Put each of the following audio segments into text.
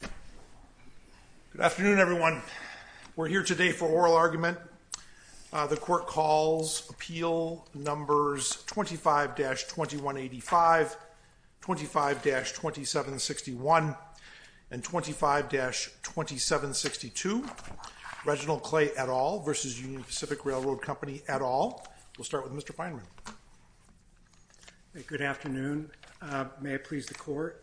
Good afternoon everyone. We're here today for oral argument. The court calls appeal numbers 25-2185, 25-2761, and 25-2762. Reginald Clay et al. v. Union Pacific Railroad Company et al. We'll start with Mr. Feinerman. Good afternoon. May it please the court.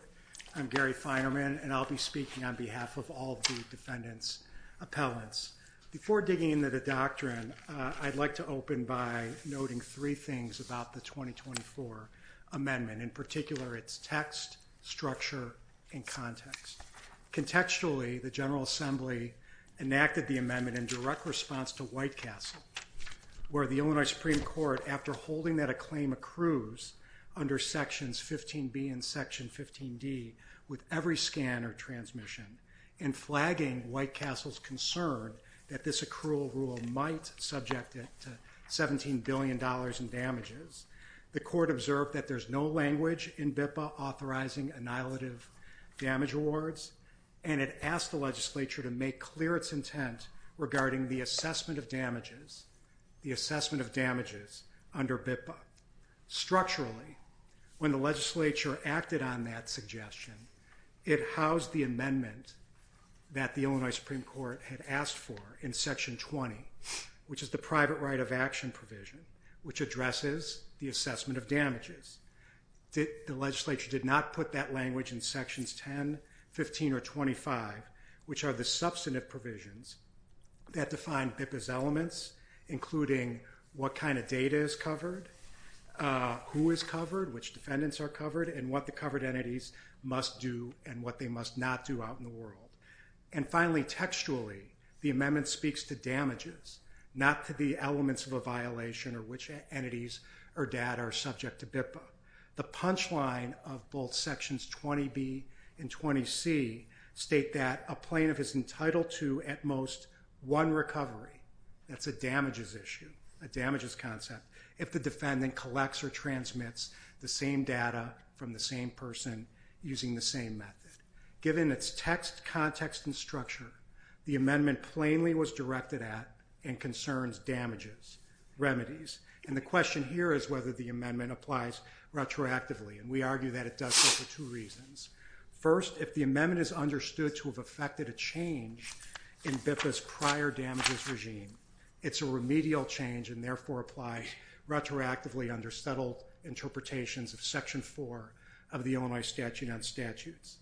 I'm Gary Feinerman and I'll be speaking on behalf of all the defendants' appellants. Before digging into the doctrine, I'd like to open by noting three things about the 2024 amendment, in particular its text, structure, and context. Contextually, the General Assembly enacted the amendment in direct response to White Castle, where the Illinois Supreme Court, after Section 15D, with every scan or transmission, and flagging White Castle's concern that this accrual rule might subject it to $17 billion in damages. The court observed that there's no language in BIPA authorizing annihilative damage awards and it asked the legislature to make clear its intent regarding the assessment of damages, the assessment of damages under BIPA. Structurally, when the legislature acted on that suggestion, it housed the amendment that the Illinois Supreme Court had asked for in Section 20, which is the private right of action provision, which addresses the assessment of damages. The legislature did not put that language in Sections 10, 15, or 25, which are the substantive provisions that define BIPA's elements, including what kind of data is covered, who is covered, which defendants are covered, and what the covered entities must do and what they must not do out in the world. And finally, textually, the amendment speaks to damages, not to the elements of a violation or which entities or data are subject to BIPA. The punchline of both Sections 20B and 20C state that a plaintiff is entitled to, at most, one recovery. That's a damages issue, a damages issue, the same data from the same person using the same method. Given its text, context, and structure, the amendment plainly was directed at and concerns damages, remedies. And the question here is whether the amendment applies retroactively, and we argue that it does so for two reasons. First, if the amendment is understood to have affected a change in BIPA's prior damages regime, it's a remedial change and therefore applies retroactively under settled interpretations of Section 4 of the Illinois Statute on Statutes.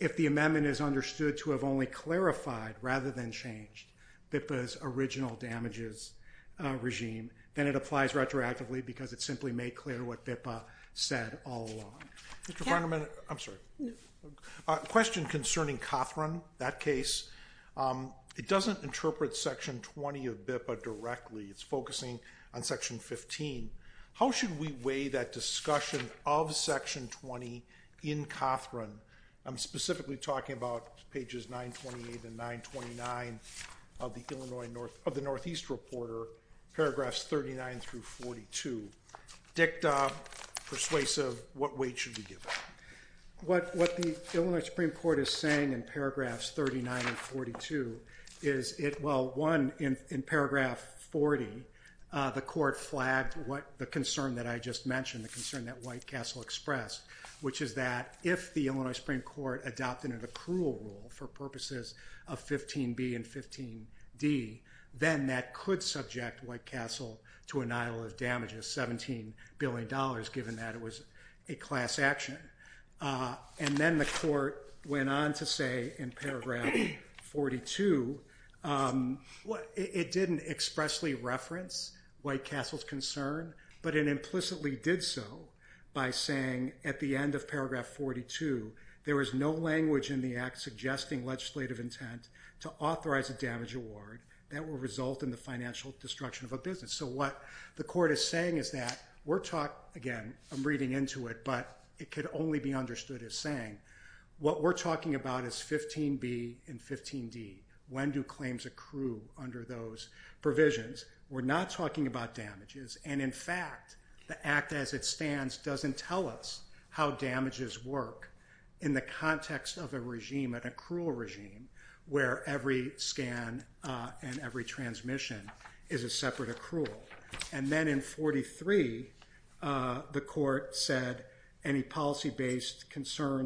If the amendment is understood to have only clarified, rather than changed, BIPA's original damages regime, then it applies retroactively because it simply made clear what BIPA said all along. Question concerning Cothran, that case. It doesn't interpret Section 20 of BIPA directly. It's focusing on Section 15. How should we weigh that discussion of Section 20 in Cothran? I'm specifically talking about pages 928 and 929 of the Illinois, of the Northeast Reporter, paragraphs 39 through 42. Dicta, persuasive, what weight should we give it? What the Illinois Supreme Court is saying in paragraphs 39 and 42 is it, well, one, in paragraph 40, the court flagged what the concern that I just mentioned, the concern that White Castle expressed, which is that if the Illinois Supreme Court adopted an accrual rule for purposes of 15b and 15d, then that could subject White Castle to annihilative damages, 17 billion dollars, given that it was a class action. And then the court went on to say in paragraph 42, it didn't expressly reference White Castle's concern, but it implicitly did so by saying at the end of paragraph 42, there is no language in the act suggesting legislative intent to authorize a damage award that will result in the financial destruction of a business. So what the court is saying is that we're talking, again, I'm reading into it, but it could only be understood as saying, what we're talking about is 15b and 15d. When do claims accrue under those provisions? We're not talking about damages, and in fact, the act as it stands doesn't tell us how damages work in the context of a regime, an accrual regime, where every scan and every transmission is a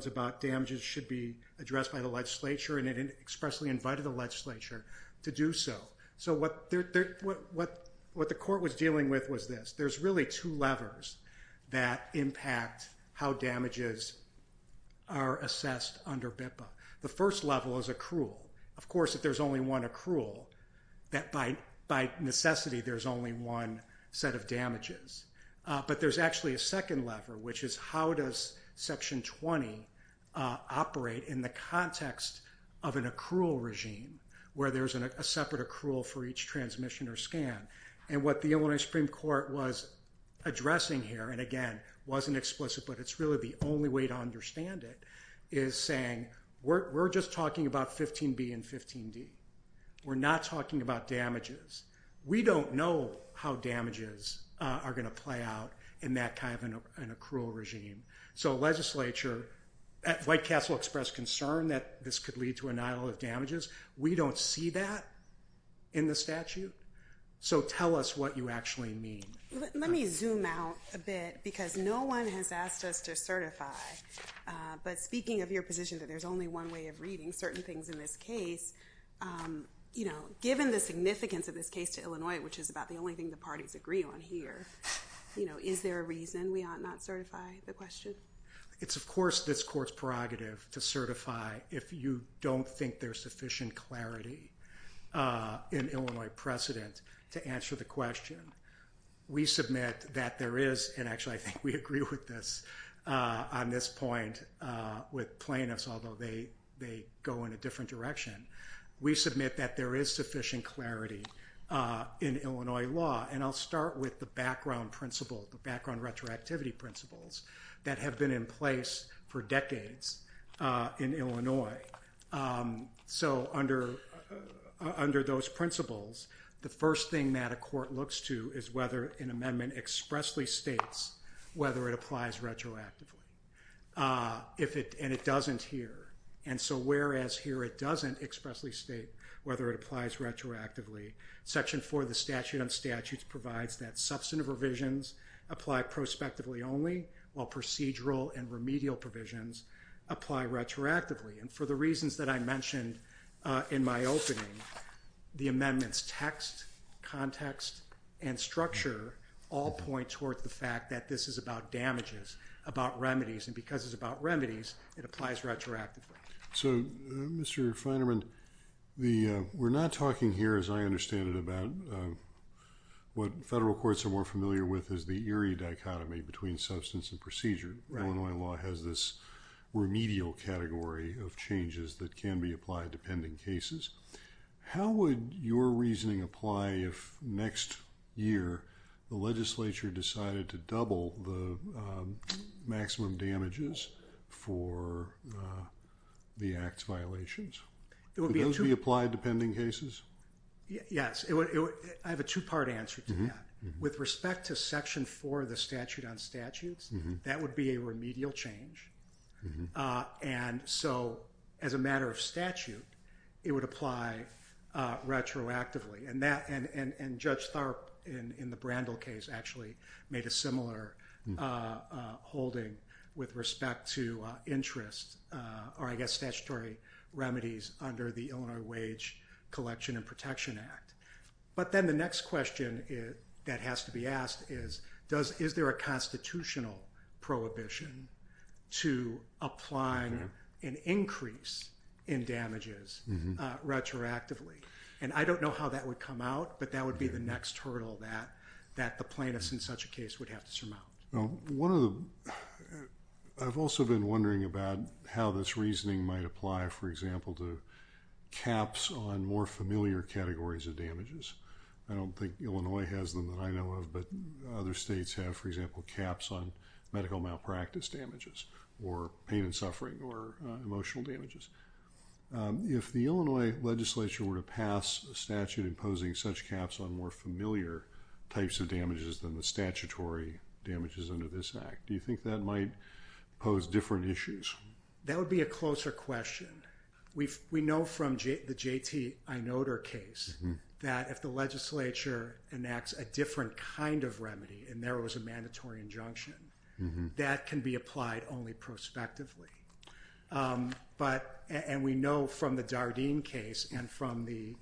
about damages should be addressed by the legislature, and it expressly invited the legislature to do so. So what the court was dealing with was this. There's really two levers that impact how damages are assessed under BIPA. The first level is accrual. Of course, if there's only one accrual, that by necessity, there's only one set of damages. But there's actually a second lever, which is how does Section 20 operate in the context of an accrual regime, where there's a separate accrual for each transmission or scan. And what the Illinois Supreme Court was addressing here, and again, wasn't explicit, but it's really the only way to understand it, is saying we're just talking about 15b and 15d. We're not talking about damages. We don't know how damages are going to work out in that kind of an accrual regime. So legislature, White Castle expressed concern that this could lead to annihilation of damages. We don't see that in the statute. So tell us what you actually mean. Let me zoom out a bit because no one has asked us to certify, but speaking of your position that there's only one way of reading certain things in this case, you know, given the significance of this case to Illinois, which is about the only thing the parties agree on here, you know, is there a reason we ought not certify the question? It's of course this court's prerogative to certify if you don't think there's sufficient clarity in Illinois precedent to answer the question. We submit that there is, and actually I think we agree with this on this point with plaintiffs, although they go in a different direction. We submit that there is sufficient clarity in Illinois law, and I'll start with the background principle, the background retroactivity principles that have been in place for decades in Illinois. So under those principles, the first thing that a court looks to is whether an amendment expressly states whether it applies retroactively. And it doesn't here, and so whereas here it doesn't expressly state whether it retroactively. Section 4 of the statute on statutes provides that substantive revisions apply prospectively only, while procedural and remedial provisions apply retroactively. And for the reasons that I mentioned in my opening, the amendments text, context, and structure all point towards the fact that this is about damages, about remedies, and because it's about remedies, it applies retroactively. So, Mr. Feinerman, we're not talking here, as I understand it, about what federal courts are more familiar with is the Erie dichotomy between substance and procedure. Illinois law has this remedial category of changes that can be applied to pending cases. How would your reasoning apply if next year the legislature decided to double the maximum damages for the Act's violations? Would those be applied to pending cases? Yes. I have a two-part answer to that. With respect to Section 4 of the statute on statutes, that would be a remedial change. And so, as a matter of statute, it would apply retroactively. And Judge Tharp, in the Brandel case, actually made a similar holding with respect to interest, or I guess statutory remedies, under the Illinois Wage Collection and Protection Act. But then the next question that has to be asked is, is there a constitutional prohibition to applying an increase in damages retroactively? And I don't know how that would come out, but that would be the next hurdle that the plaintiffs in such a case would have to surmount. I've also been wondering about how this reasoning might apply, for example, to caps on more familiar categories of damages. I don't think Illinois has them that I know of, but other states have, for example, caps on medical malpractice damages, or pain and suffering, or emotional damages. If the Illinois legislature were to pass a statute imposing such caps on more familiar types of damages than the statutory damages under this Act, do you think that might pose different issues? That would be a closer question. We know from the J.T. Inotar case that if the legislature enacts a different kind of remedy, and there was a mandatory injunction, that can be applied only prospectively. And we know from the Dardenne case, and from the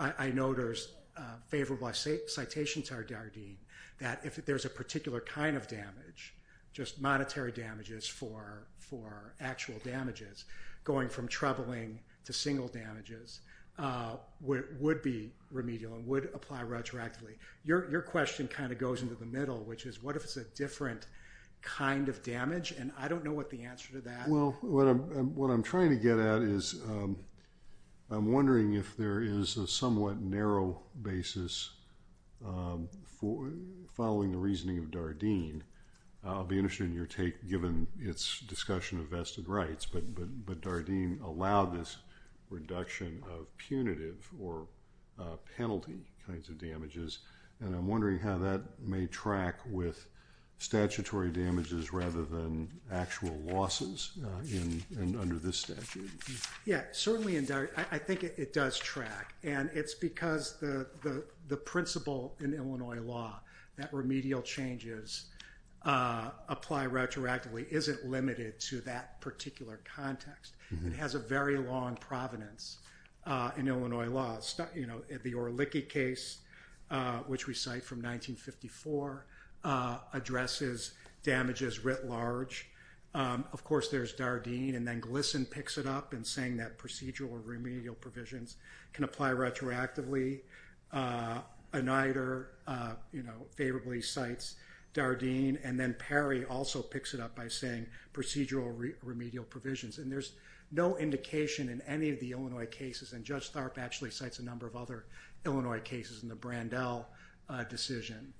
Inotar's favorable citation to our Dardenne, that if there's a particular kind of damage, just monetary damages for actual damages, going from troubling to single damages, would be remedial and would apply retroactively. Your question kind of goes into the middle, which is, what if it's a different kind of damage? And I don't know what the answer to that is. Well, what I'm trying to get at is, I'm wondering if there is a somewhat narrow basis following the reasoning of Dardenne. I'll be interested in your take, given its discussion of vested rights, but Dardenne allowed this reduction of punitive or penalty kinds of damages. And I'm wondering how that may track with statutory damages rather than actual losses under this statute. Yeah, certainly, I think it does track. And it's because the principle in Illinois law, that remedial changes apply retroactively, isn't limited to that particular context. It has a very long provenance in Illinois law. The Orelicki case, which we cite from 1954, addresses damages writ large. Of course, there's Dardenne, and then Glisson picks it up in saying that procedural or remedial provisions can apply retroactively. Oneider favorably cites Dardenne, and then Perry also picks it up by saying procedural or remedial provisions. And there's no indication in any of the number of other Illinois cases in the Brandel decision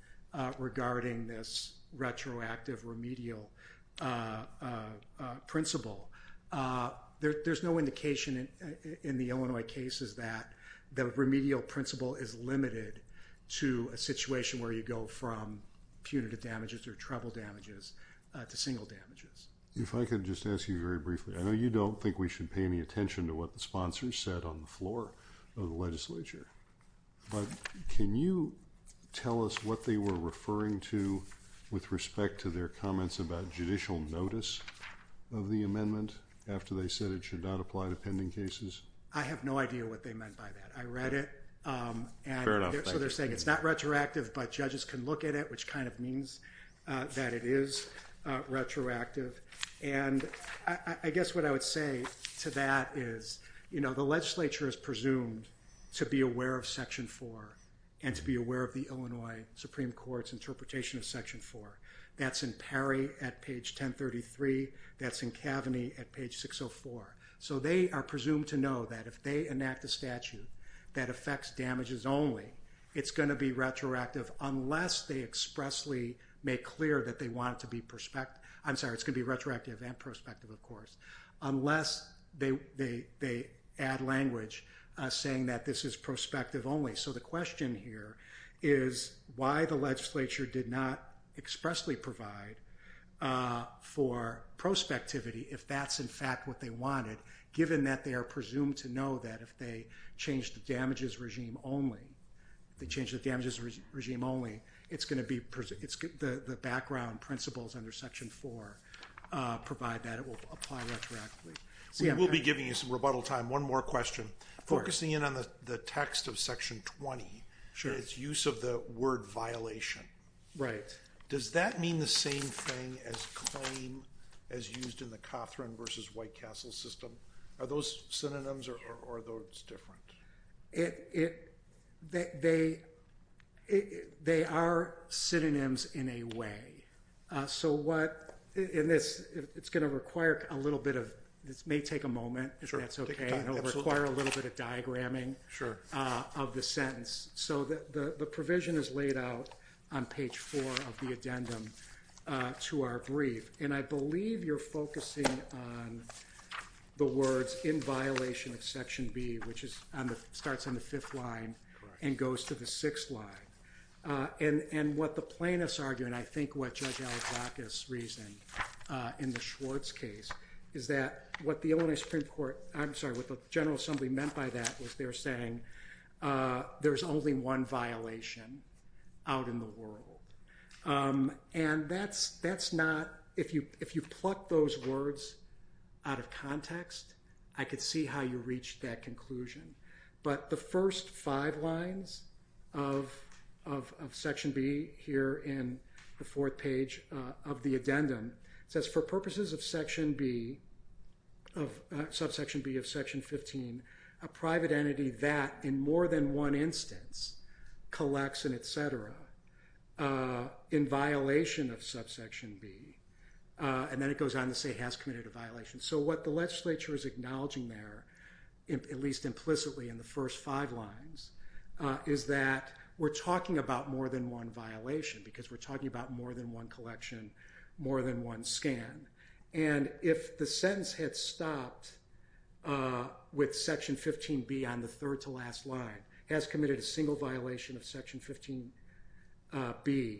regarding this retroactive remedial principle. There's no indication in the Illinois cases that the remedial principle is limited to a situation where you go from punitive damages or treble damages to single damages. If I could just ask you very briefly, I know you don't think we should pay any attention to what the sponsors said on the floor of the legislature, but can you tell us what they were referring to with respect to their comments about judicial notice of the amendment after they said it should not apply to pending cases? I have no idea what they meant by that. I read it, and so they're saying it's not retroactive, but judges can look at it, which kind of means that it is retroactive. And I guess what I would say to that is, you know, the legislature is presumed to be aware of Section 4 and to be aware of the Illinois Supreme Court's interpretation of Section 4. That's in Perry at page 1033. That's in Cavaney at page 604. So they are presumed to know that if they enact a statute that affects damages only, it's going to be retroactive unless they expressly make clear that they want it to be retrospective. I'm sorry, it's going to be retroactive and prospective, of course, unless they add language saying that this is prospective only. So the question here is why the legislature did not expressly provide for prospectivity if that's in fact what they wanted, given that they are presumed to know that if they change the damages regime only, it's going to be, the background principles under Section 4 provide that it will apply retroactively. We will be giving you some rebuttal time. One more question. Focusing in on the text of Section 20, its use of the word violation. Right. Does that mean the same thing as claim as used in the They are synonyms in a way. So what, in this, it's going to require a little bit of, this may take a moment, if that's okay. It will require a little bit of diagramming of the sentence. So the provision is laid out on page 4 of the addendum to our brief and I believe you're focusing on the words in violation of Section B, which is on the, starts on the fifth line and goes to the sixth line. And what the plaintiffs argue, and I think what Judge Alibacca's reason in the Schwartz case, is that what the Illinois Supreme Court, I'm sorry, what the General Assembly meant by that was they're saying there's only one violation out in the world. And that's, that's not, if you, if you pluck those words out of context, I could see how you reach that conclusion. But the first five lines of Section B here in the fourth page of the addendum says for purposes of Section B, of Subsection B of Section 15, a private entity that in more than one instance collects an etc. in violation of Subsection B. And then it goes on to say has committed a violation. So what the legislature is acknowledging there, at least implicitly in the first five lines, is that we're talking about more than one violation because we're talking about more than one collection, more than one scan. And if the sentence had stopped with Section 15B on the third to last line, has committed a single violation of Section 15B,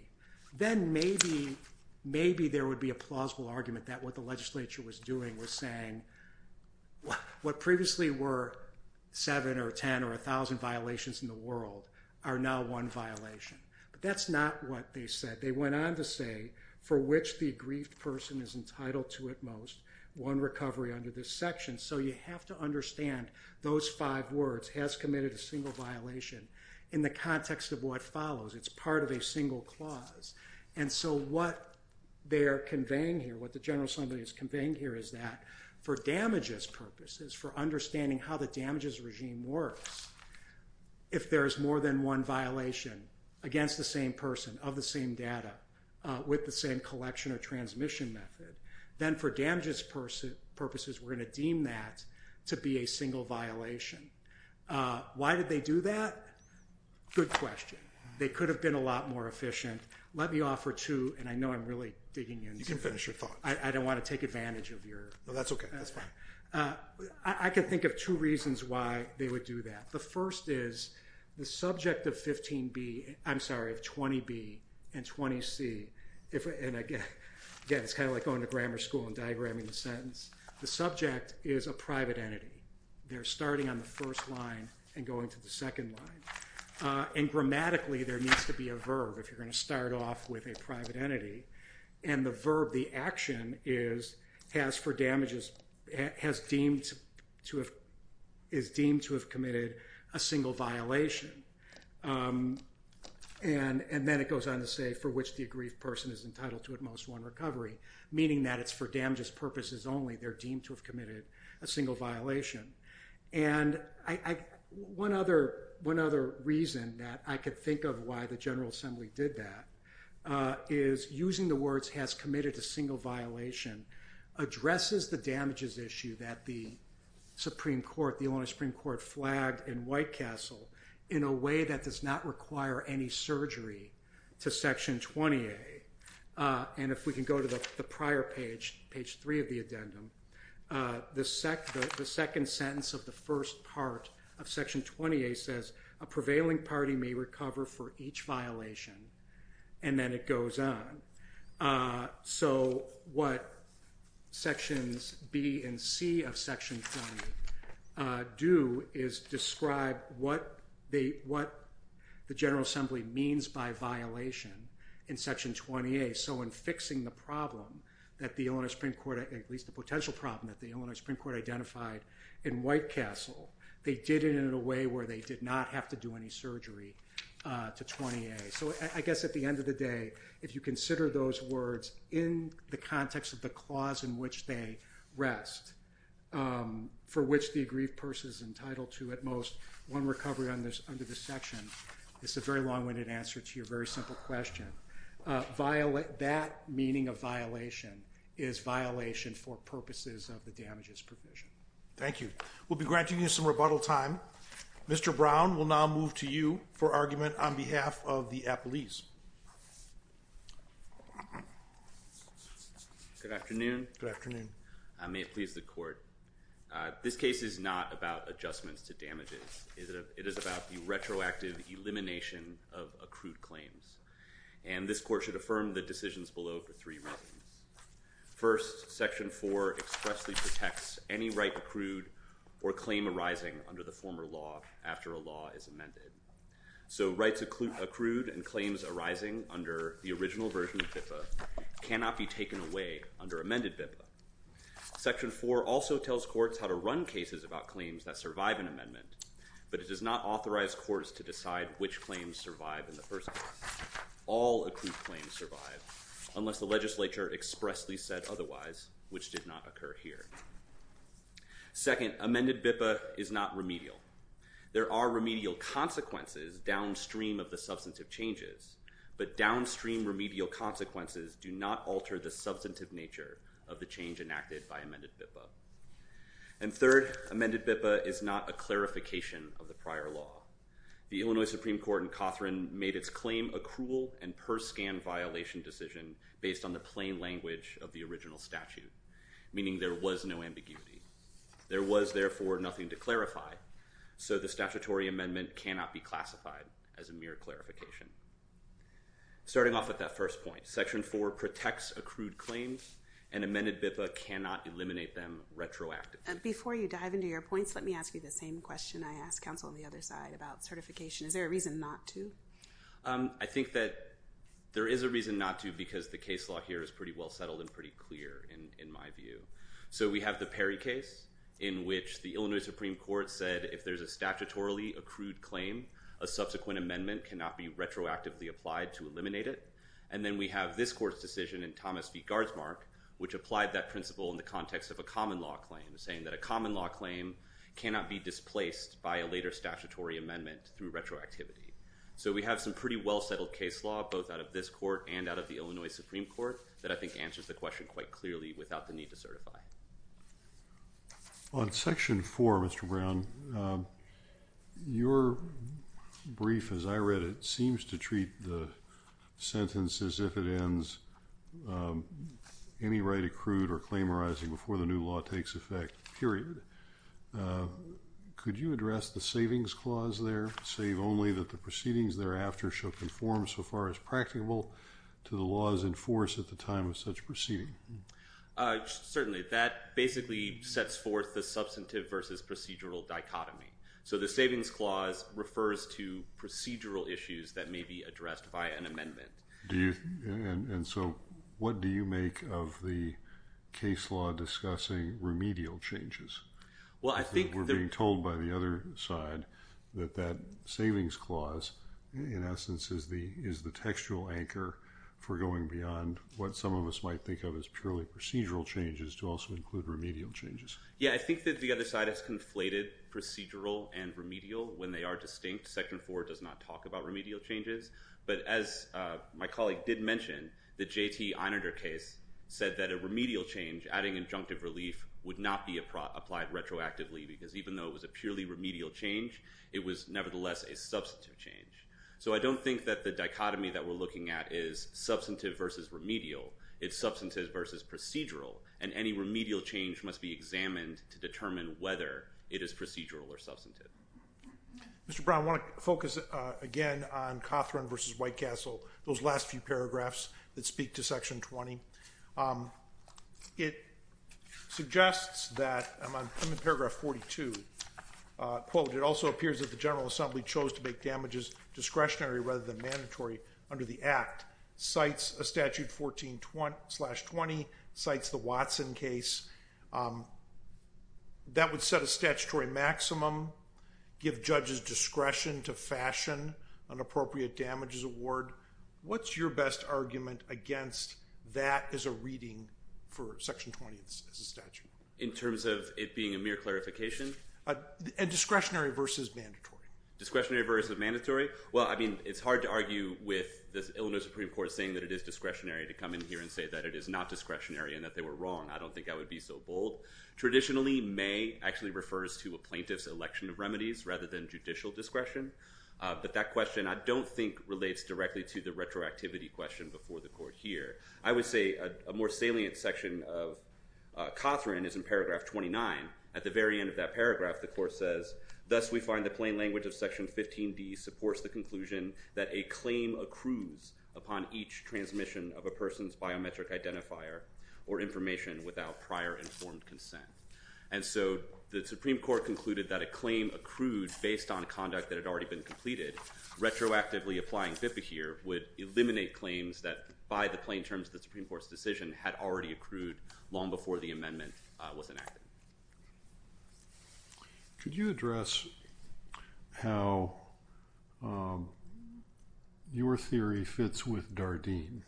then maybe, maybe there would be a plausible argument that what the legislature was doing was saying what previously were seven or ten or a thousand violations in the world are now one violation. But that's not what they said. They went on to say for which the aggrieved person is entitled to at most one recovery under this section. So you have to understand those five words, has committed a single violation, in the context of what follows. It's part of a single clause. And so what they're conveying here, what the General Assembly is conveying here, is that for damages purposes, for understanding how the damages regime works, if there's more than one violation against the same person of the same data with the same collection or transmission method, then for damages purposes we're going to deem that to be a single violation. Why did they do that? Good question. They know I'm really digging in. You can finish your thought. I don't want to take advantage of your... No, that's okay, that's fine. I can think of two reasons why they would do that. The first is the subject of 15B, I'm sorry, of 20B and 20C, if and again, it's kind of like going to grammar school and diagramming the sentence, the subject is a private entity. They're starting on the first line and going to the second line. And grammatically there needs to be a verb. If you're going to start off with a private entity, and the verb, the action is, has for damages, has deemed to have, is deemed to have committed a single violation. And then it goes on to say, for which the aggrieved person is entitled to at most one recovery, meaning that it's for damages purposes only, they're deemed to have committed a single violation. And one other reason that I could think of why the General Assembly did that is, using the words, has committed a single violation, addresses the damages issue that the Supreme Court, the Illinois Supreme Court, flagged in White Castle in a way that does not require any surgery to Section 20A. And if we can go to the prior page, page 3 of the addendum, the second sentence of the first part of Section 20A says, a prevailing party may recover for each violation. And then it goes on. So what Sections B and C of Section 20A do is describe what the General Assembly means by violation in Section 20A. So in fixing the problem that the Illinois Supreme Court, at least the potential problem that the Illinois Supreme Court, had in a way where they did not have to do any surgery to 20A. So I guess at the end of the day, if you consider those words in the context of the clause in which they rest, for which the aggrieved person is entitled to at most one recovery under this section, it's a very long-winded answer to your very simple question. That meaning of violation is violation for purposes of the damages provision. Thank you. We'll be granting you some rebuttal time. Mr. Brown will now move to you for argument on behalf of the appellees. Good afternoon. Good afternoon. May it please the court. This case is not about adjustments to damages. It is about the retroactive elimination of accrued claims. And this court should affirm the decisions below for three reasons. First, Section 4 expressly protects any right accrued or claim arising under the former law after a law is amended. So rights accrued and claims arising under the original version of BIPA cannot be taken away under amended BIPA. Section 4 also tells courts how to run cases about claims that survive an amendment, but it does not authorize courts to decide which claims survive in the first place. All accrued claims survive unless the legislature expressly said otherwise, which did not occur here. Second, amended BIPA is not remedial. There are remedial consequences downstream of the substantive changes, but downstream remedial consequences do not alter the substantive nature of the change enacted by amended BIPA. And third, amended BIPA is not a clarification of the prior law. The Illinois Supreme Court in Cothran made its claim a cruel and harsh scan violation decision based on the plain language of the original statute, meaning there was no ambiguity. There was therefore nothing to clarify, so the statutory amendment cannot be classified as a mere clarification. Starting off at that first point, Section 4 protects accrued claims and amended BIPA cannot eliminate them retroactively. Before you dive into your points, let me ask you the same question I asked counsel on the other side about certification. Is there a reason not to? I think that there is a reason not to because the case law here is pretty well settled and pretty clear in my view. So we have the Perry case in which the Illinois Supreme Court said if there's a statutorily accrued claim, a subsequent amendment cannot be retroactively applied to eliminate it. And then we have this court's decision in Thomas v. Gardsmark, which applied that principle in the context of a common law claim, saying that a common law claim cannot be displaced by a later statutory amendment through retroactivity. So we have some pretty well settled case law both out of this court and out of the Illinois Supreme Court that I think answers the question quite clearly without the need to certify. On Section 4, Mr. Brown, your brief as I read it seems to treat the sentence as if it ends, any right accrued or claim arising before the new law takes effect, period. Could you address the savings clause there, save only that the proceedings thereafter shall conform so far as practicable to the laws in force at the time of such proceeding? Certainly. That basically sets forth the substantive versus procedural dichotomy. So the savings clause refers to procedural issues that may be addressed by an amendment. And so what do you make of the case law discussing remedial changes? Well, I think... We're being told by the other side that that savings clause, in essence, is the textual anchor for going beyond what some of us might think of as purely procedural changes to also include remedial changes. Yeah, I think that the other side has conflated procedural and remedial when they are distinct. Section 4 does not talk about remedial changes. But as my colleague did mention, the J.T. Minarder case said that a remedial change, adding injunctive relief, would not be applied retroactively because even though it was a purely remedial change, it was nevertheless a substantive change. So I don't think that the dichotomy that we're looking at is substantive versus remedial. It's substantive versus procedural. And any remedial change must be examined to determine whether it is procedural or substantive. Mr. Brown, I want to focus again on Cothran versus White Castle, those last few paragraphs that speak to Section 20. It suggests that... I'm on paragraph 42. Quote, it also appears that the General Assembly chose to make damages discretionary rather than mandatory under the Act. Cites a statute 14-20, cites the Watson case. That would set a statutory maximum, give judges discretion to fashion an appropriate damages award. What's your best argument against that as a reading for Section 20 as a statute? In terms of it being a mere clarification? A discretionary versus mandatory. Discretionary versus mandatory? Well, I mean, it's hard to argue with the Illinois Supreme Court saying that it is discretionary to come in here and say that it is not discretionary and that they were wrong. I don't think I would be so bold. Traditionally, may actually refers to a plaintiff's election of remedies rather than judicial discretion. But that question I don't think relates directly to the retroactivity question before the court here. I would say a more salient section of Cothran is in paragraph 29. At the very end of that paragraph, the court says, thus we find the plain language of Section 15d supports the conclusion that a claim accrues upon each transmission of a person's biometric identifier or information without prior informed consent. And so the Supreme Court concluded that a claim accrued based on conduct that had already been completed, retroactively applying Bipahir would eliminate claims that, by the plain terms of the Supreme Court's decision, had already accrued long before the amendment was enacted. Could you address how your theory fits with Dardenne?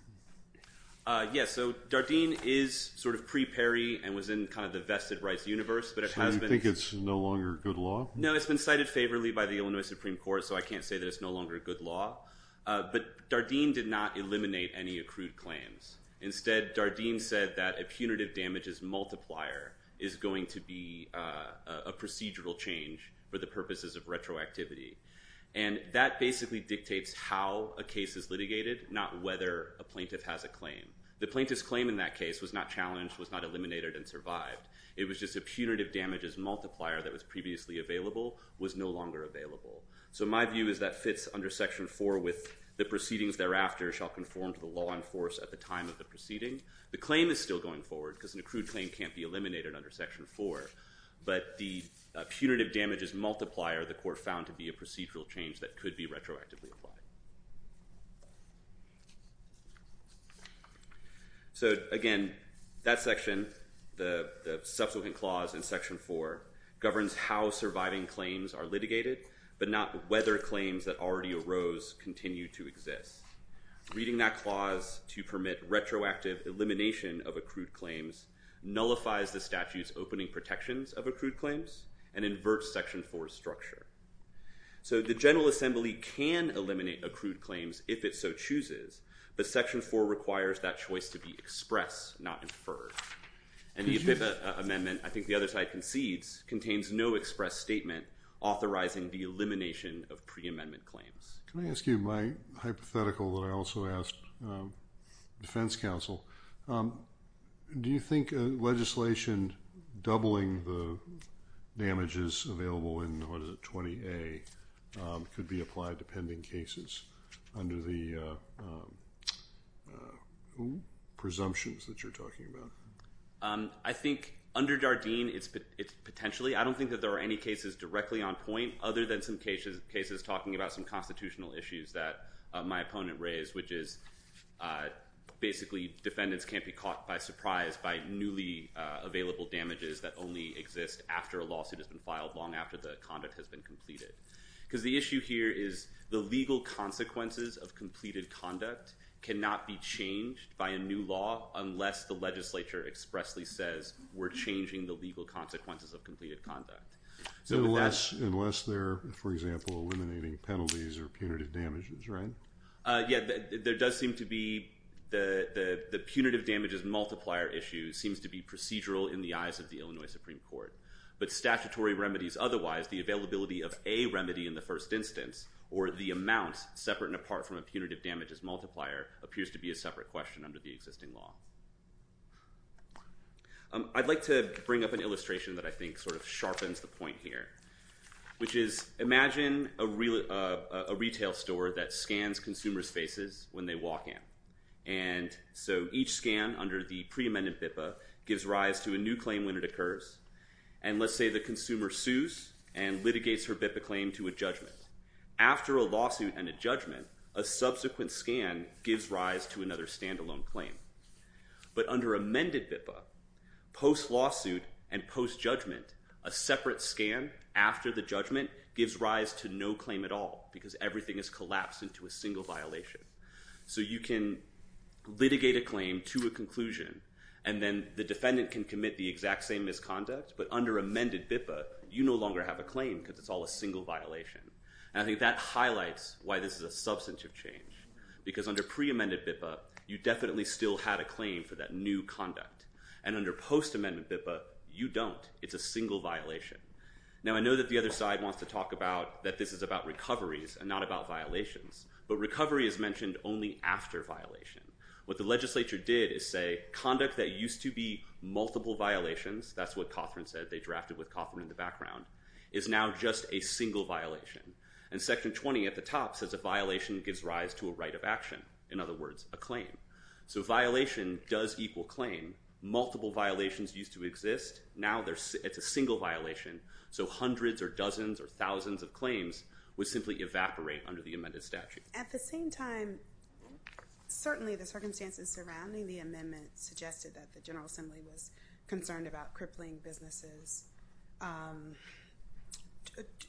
Yes, so Dardenne is sort of pre Perry and was in kind of the vested rights universe, but it has been... So you think it's no longer good law? No, it's been cited favorably by the Illinois Supreme Court, so I can't say that it's no longer a good law. But Dardenne did not eliminate any accrued claims. Instead, Dardenne said that a punitive damages multiplier is going to be a procedural change for the purposes of retroactivity. And that basically dictates how a case is litigated, not whether a plaintiff has a claim. The plaintiff's claim in that case was not challenged, was not eliminated, and survived. It was just a punitive damages multiplier that was previously available, was no longer available. So my view is that fits under Section 4 with the proceedings thereafter shall conform to the law in force at the time of the proceeding. The claim is still going forward because an accrued claim can't be eliminated under Section 4, but the punitive damages multiplier the court found to be a procedural change that could be retroactively applied. So again, that section, the subsequent clause in Section 4, governs how surviving claims are litigated, but not whether claims that already arose continue to exist. Reading that clause to permit retroactive elimination of accrued claims nullifies the statute's opening protections of accrued claims and inverts Section 4's structure. So the General Assembly can eliminate accrued claims if it so chooses, but Section 4 requires that choice to be expressed, not inferred. And the amendment, I think the other side concedes, contains no express statement authorizing the elimination of pre-amendment claims. Can I ask you my hypothetical that I also asked Defense Counsel? Do you think legislation doubling the damages available in, what is it, 20A could be a reason to apply depending cases under the presumptions that you're talking about? I think under Jardine, it's potentially. I don't think that there are any cases directly on point other than some cases talking about some constitutional issues that my opponent raised, which is basically defendants can't be caught by surprise by newly available damages that only exist after a lawsuit has been filed long after the conduct has been completed. Because the idea here is the legal consequences of completed conduct cannot be changed by a new law unless the legislature expressly says we're changing the legal consequences of completed conduct. Unless they're, for example, eliminating penalties or punitive damages, right? Yeah, there does seem to be the punitive damages multiplier issue seems to be procedural in the eyes of the Illinois Supreme Court. But statutory remedies otherwise, the availability of a remedy in the first instance or the amount separate and apart from a punitive damages multiplier appears to be a separate question under the existing law. I'd like to bring up an illustration that I think sort of sharpens the point here, which is imagine a retail store that scans consumers' faces when they walk in. And so each scan under the pre-amendment BIPA gives rise to a new claim when it occurs. And let's say the consumer sues and litigates her BIPA claim to a judgment. After a lawsuit and a judgment, a subsequent scan gives rise to another standalone claim. But under amended BIPA, post-lawsuit and post-judgment, a separate scan after the judgment gives rise to no claim at all because everything is collapsed into a single violation. So you can litigate a claim to a conclusion and then the defendant can commit the exact same misconduct. But under amended BIPA, you no longer have a claim because it's all a single violation. And I think that highlights why this is a substantive change. Because under pre-amended BIPA, you definitely still had a claim for that new conduct. And under post-amendment BIPA, you don't. It's a single violation. Now I know that the other side wants to talk about that this is about recoveries and not about violations. But recovery is mentioned only after violation. What the legislature did is say conduct that used to be multiple violations, that's what Cawthron said, they drafted with Cawthron in the background, is now just a single violation. And section 20 at the top says a violation gives rise to a right of action. In other words, a claim. So violation does equal claim. Multiple violations used to exist. Now it's a single violation. So hundreds or dozens or thousands of claims would simply evaporate under the amended statute. At the same time, certainly the circumstances surrounding the amendment suggested that the General Assembly was concerned about crippling businesses,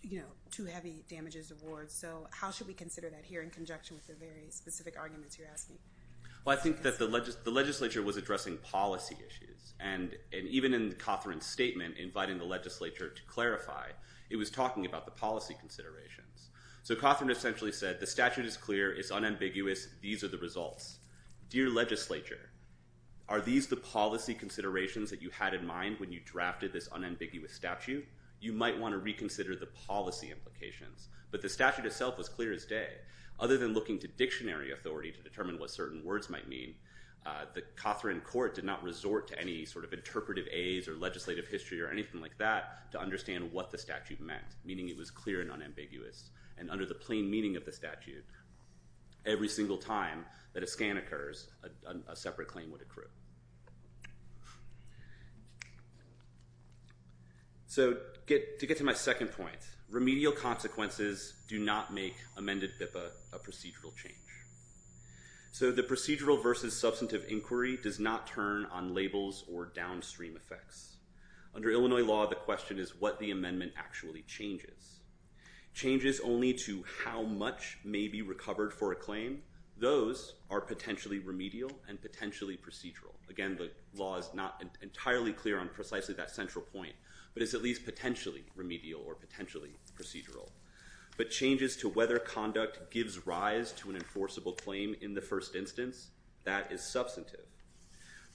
you know, too heavy damages awards. So how should we consider that here in conjunction with the very specific arguments you're asking? Well I think that the legislature was addressing policy issues. And even in Cawthron's statement, inviting the legislature to clarify, it was talking about the policy considerations. So Cawthron essentially said the statute is clear, it's unambiguous, these are the results. Dear legislature, are these the policy considerations that you had in mind when you drafted this unambiguous statute? You might want to reconsider the policy implications. But the statute itself was clear as day. Other than looking to dictionary authority to determine what certain words might mean, the Cawthron court did not resort to any sort of interpretive a's or legislative history or anything like that to understand what the statute meant. Meaning it was clear and unambiguous. And under the plain meaning of the statute, every single time that a scan occurs, a separate claim would accrue. So to get to my second point, remedial consequences do not make amended BIPA a procedural change. So the procedural versus substantive inquiry does not turn on labels or downstream effects. Under Illinois law, the question is what the amendment actually changes. Changes only to how much may be recovered for a claim, those are potentially remedial and potentially procedural. Again, the law is not entirely clear on precisely that central point, but it's at least potentially remedial or potentially procedural. But changes to whether conduct gives rise to an enforceable claim in the first instance, that is substantive.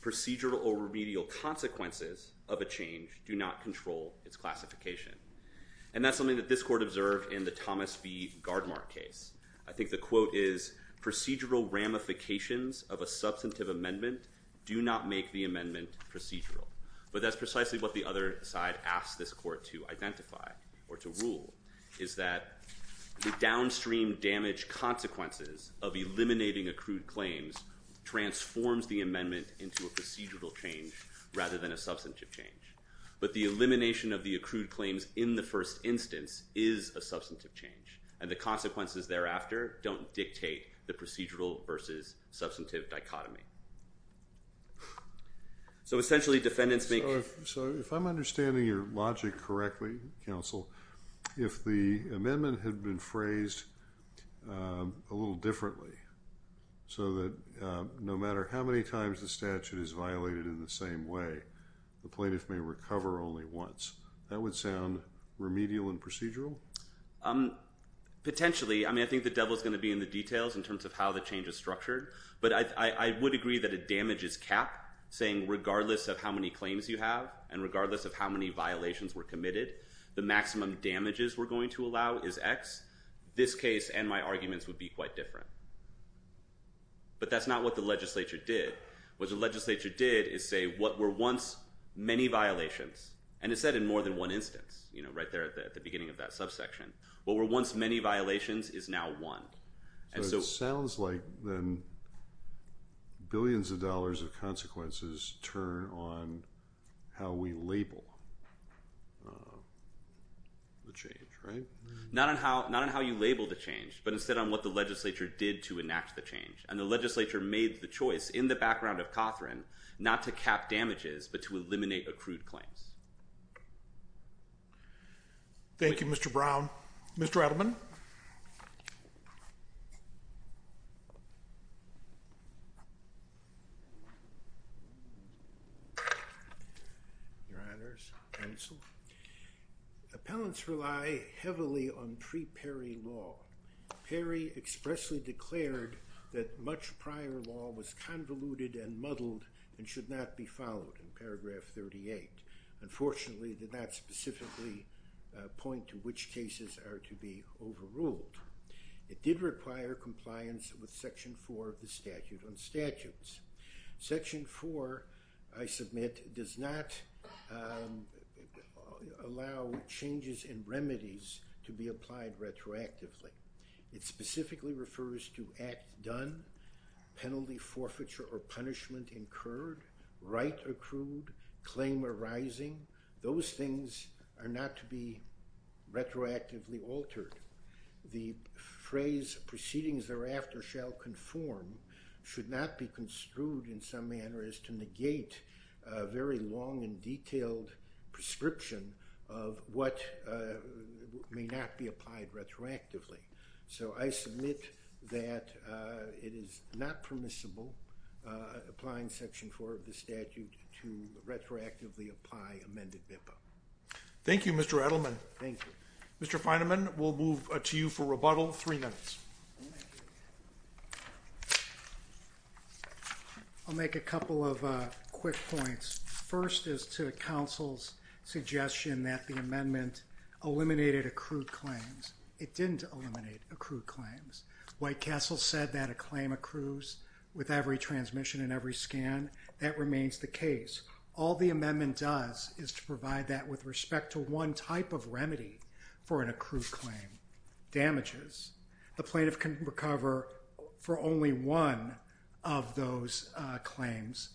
Procedural or remedial consequences of a change do not control its classification. And that's something that this court observed in the Thomas B. Gardemark case. I think the quote is, procedural ramifications of a substantive amendment do not make the amendment procedural. But that's precisely what the other side asked this court to identify or to rule is that the downstream damage consequences of eliminating accrued claims transforms the amendment into a procedural change rather than a substantive change. But the elimination of the accrued claims in the first instance is a substantive change. And the consequences thereafter don't dictate the procedural versus substantive dichotomy. So essentially defendants make... So if I'm understanding your logic correctly, counsel, if the amendment had been phrased a little differently so that no matter how many times the statute is violated in the same way, the plaintiff may recover only once, that would sound remedial and procedural? Potentially. I mean, I think the devil is going to be in the details in terms of how the change is structured. But I would agree that a damages cap, saying regardless of how many claims you have and regardless of how many violations were committed, the maximum damages we're going to allow is X. This case and my arguments would be quite different. But that's not what the legislature did. What the legislature did is say what were once many violations, and it said in more than one instance, you know, right there at the beginning of that subsection. What were once many violations is now one. So it sounds like then billions of dollars of consequences turn on how we label the change, right? Not on how you label the change, but instead on what the legislature did to enact the change. And the legislature made the choice in the background of Cothran not to cap damages, but to eliminate accrued claims. Thank you, Mr. Brown. Mr. Edelman? Your Honors, Appellants rely heavily on pre-Perry law. Perry expressly declared that much prior law was convoluted and muddled and should not be followed in paragraph 38. Unfortunately, it did not specifically point to which cases are to be overruled. It did require compliance with Section 4 of the Statute on Statutes. Section 4, I submit, does not allow changes in remedies to be applied retroactively. It specifically refers to act done, penalty forfeiture or punishment incurred, right accrued, claim arising. Those things are not to be retroactively altered. The phrase proceedings thereafter shall conform should not be construed in some manner as to negate a very long and detailed prescription of what may not be applied retroactively. So I submit that it is not permissible applying Section 4 of the Statute to retroactively apply amended MIPA. Thank you, Mr. Edelman. Thank you. Mr. Feinemann, we'll move to you for rebuttal. Three minutes. I'll make a couple of quick points. First is to Council's suggestion that the amendment eliminated accrued claims. It didn't eliminate accrued claims. White Castle said that a claim accrues with every transmission and every scan. That remains the case. All the amendment does is to provide that with respect to one type of remedy for an accrued claim, damages. The plaintiff can recover for only one of those claims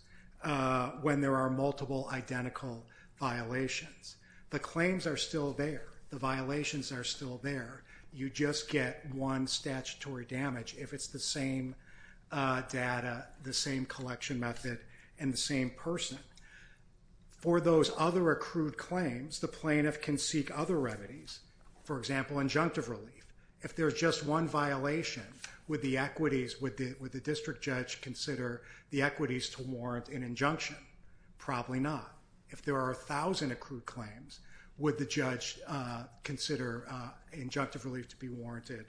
when there are multiple identical violations. The claims are still there. The violations are still there. You just get one statutory damage if it's the same data, the same collection method, and the same person. For those other accrued claims, the plaintiff can seek other remedies. For example, injunctive relief. If there's just one violation with the equities would the district judge consider the equities to warrant an injunction? Probably not. If there are a thousand accrued claims, would the judge consider injunctive relief to be warranted?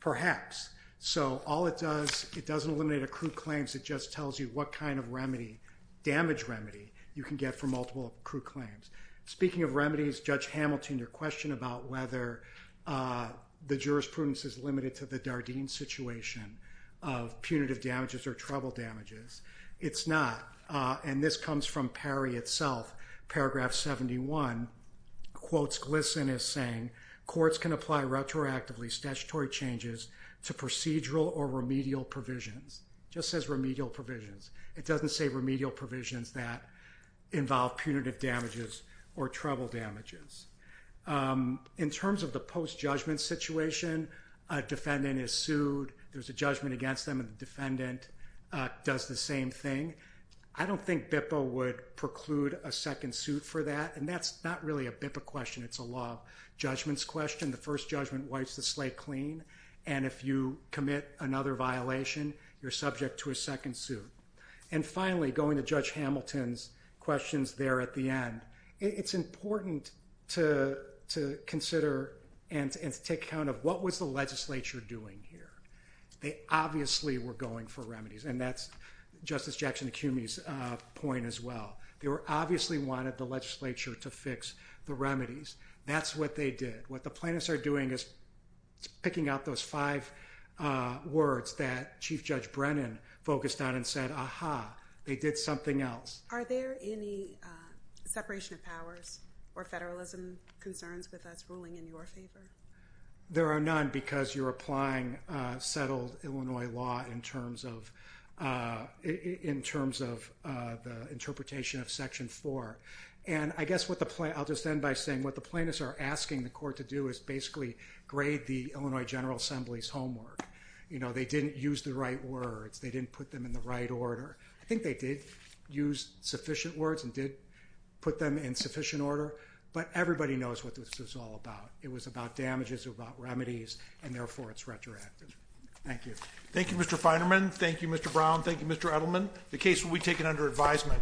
Perhaps. So all it does, it doesn't eliminate accrued claims. It just tells you what kind of remedy, damage remedy, you can get for multiple accrued claims. Speaking of remedies, Judge Hamilton, your question about whether the jurisprudence is limited to the Dardeen situation of punitive damages or trouble damages. It's not. And this comes from Parry itself. Paragraph 71 quotes Glisson as saying, courts can apply retroactively statutory changes to procedural or remedial provisions. Just says remedial provisions. It doesn't say provisions that involve punitive damages or trouble damages. In terms of the post-judgment situation, a defendant is sued. There's a judgment against them and the defendant does the same thing. I don't think BIPA would preclude a second suit for that, and that's not really a BIPA question. It's a law of judgments question. The first judgment wipes the slate clean, and if you commit another violation, you're subject to a second suit. And finally, going to Judge Hamilton's questions there at the end, it's important to consider and take account of what was the legislature doing here. They obviously were going for remedies, and that's Justice Jackson Acumi's point as well. They obviously wanted the legislature to fix the remedies. That's what they did. What the plaintiffs are doing is picking out those five words that Chief Judge Brennan focused on and said, aha, they did something else. Are there any separation of powers or federalism concerns with us ruling in your favor? There are none because you're applying settled Illinois law in terms of the interpretation of Section 4. And I guess what the plaintiffs are asking the court to do is basically grade the Illinois General Assembly's homework. You know, they didn't use the right words. They didn't put them in the right order. I think they did use sufficient words and did put them in sufficient order, but everybody knows what this was all about. It was about damages, about remedies, and therefore it's retroactive. Thank you. Thank you, Mr. Feinerman. Thank you, Mr. Brown. Thank you, Mr. Edelman. The case will be taken under advisement.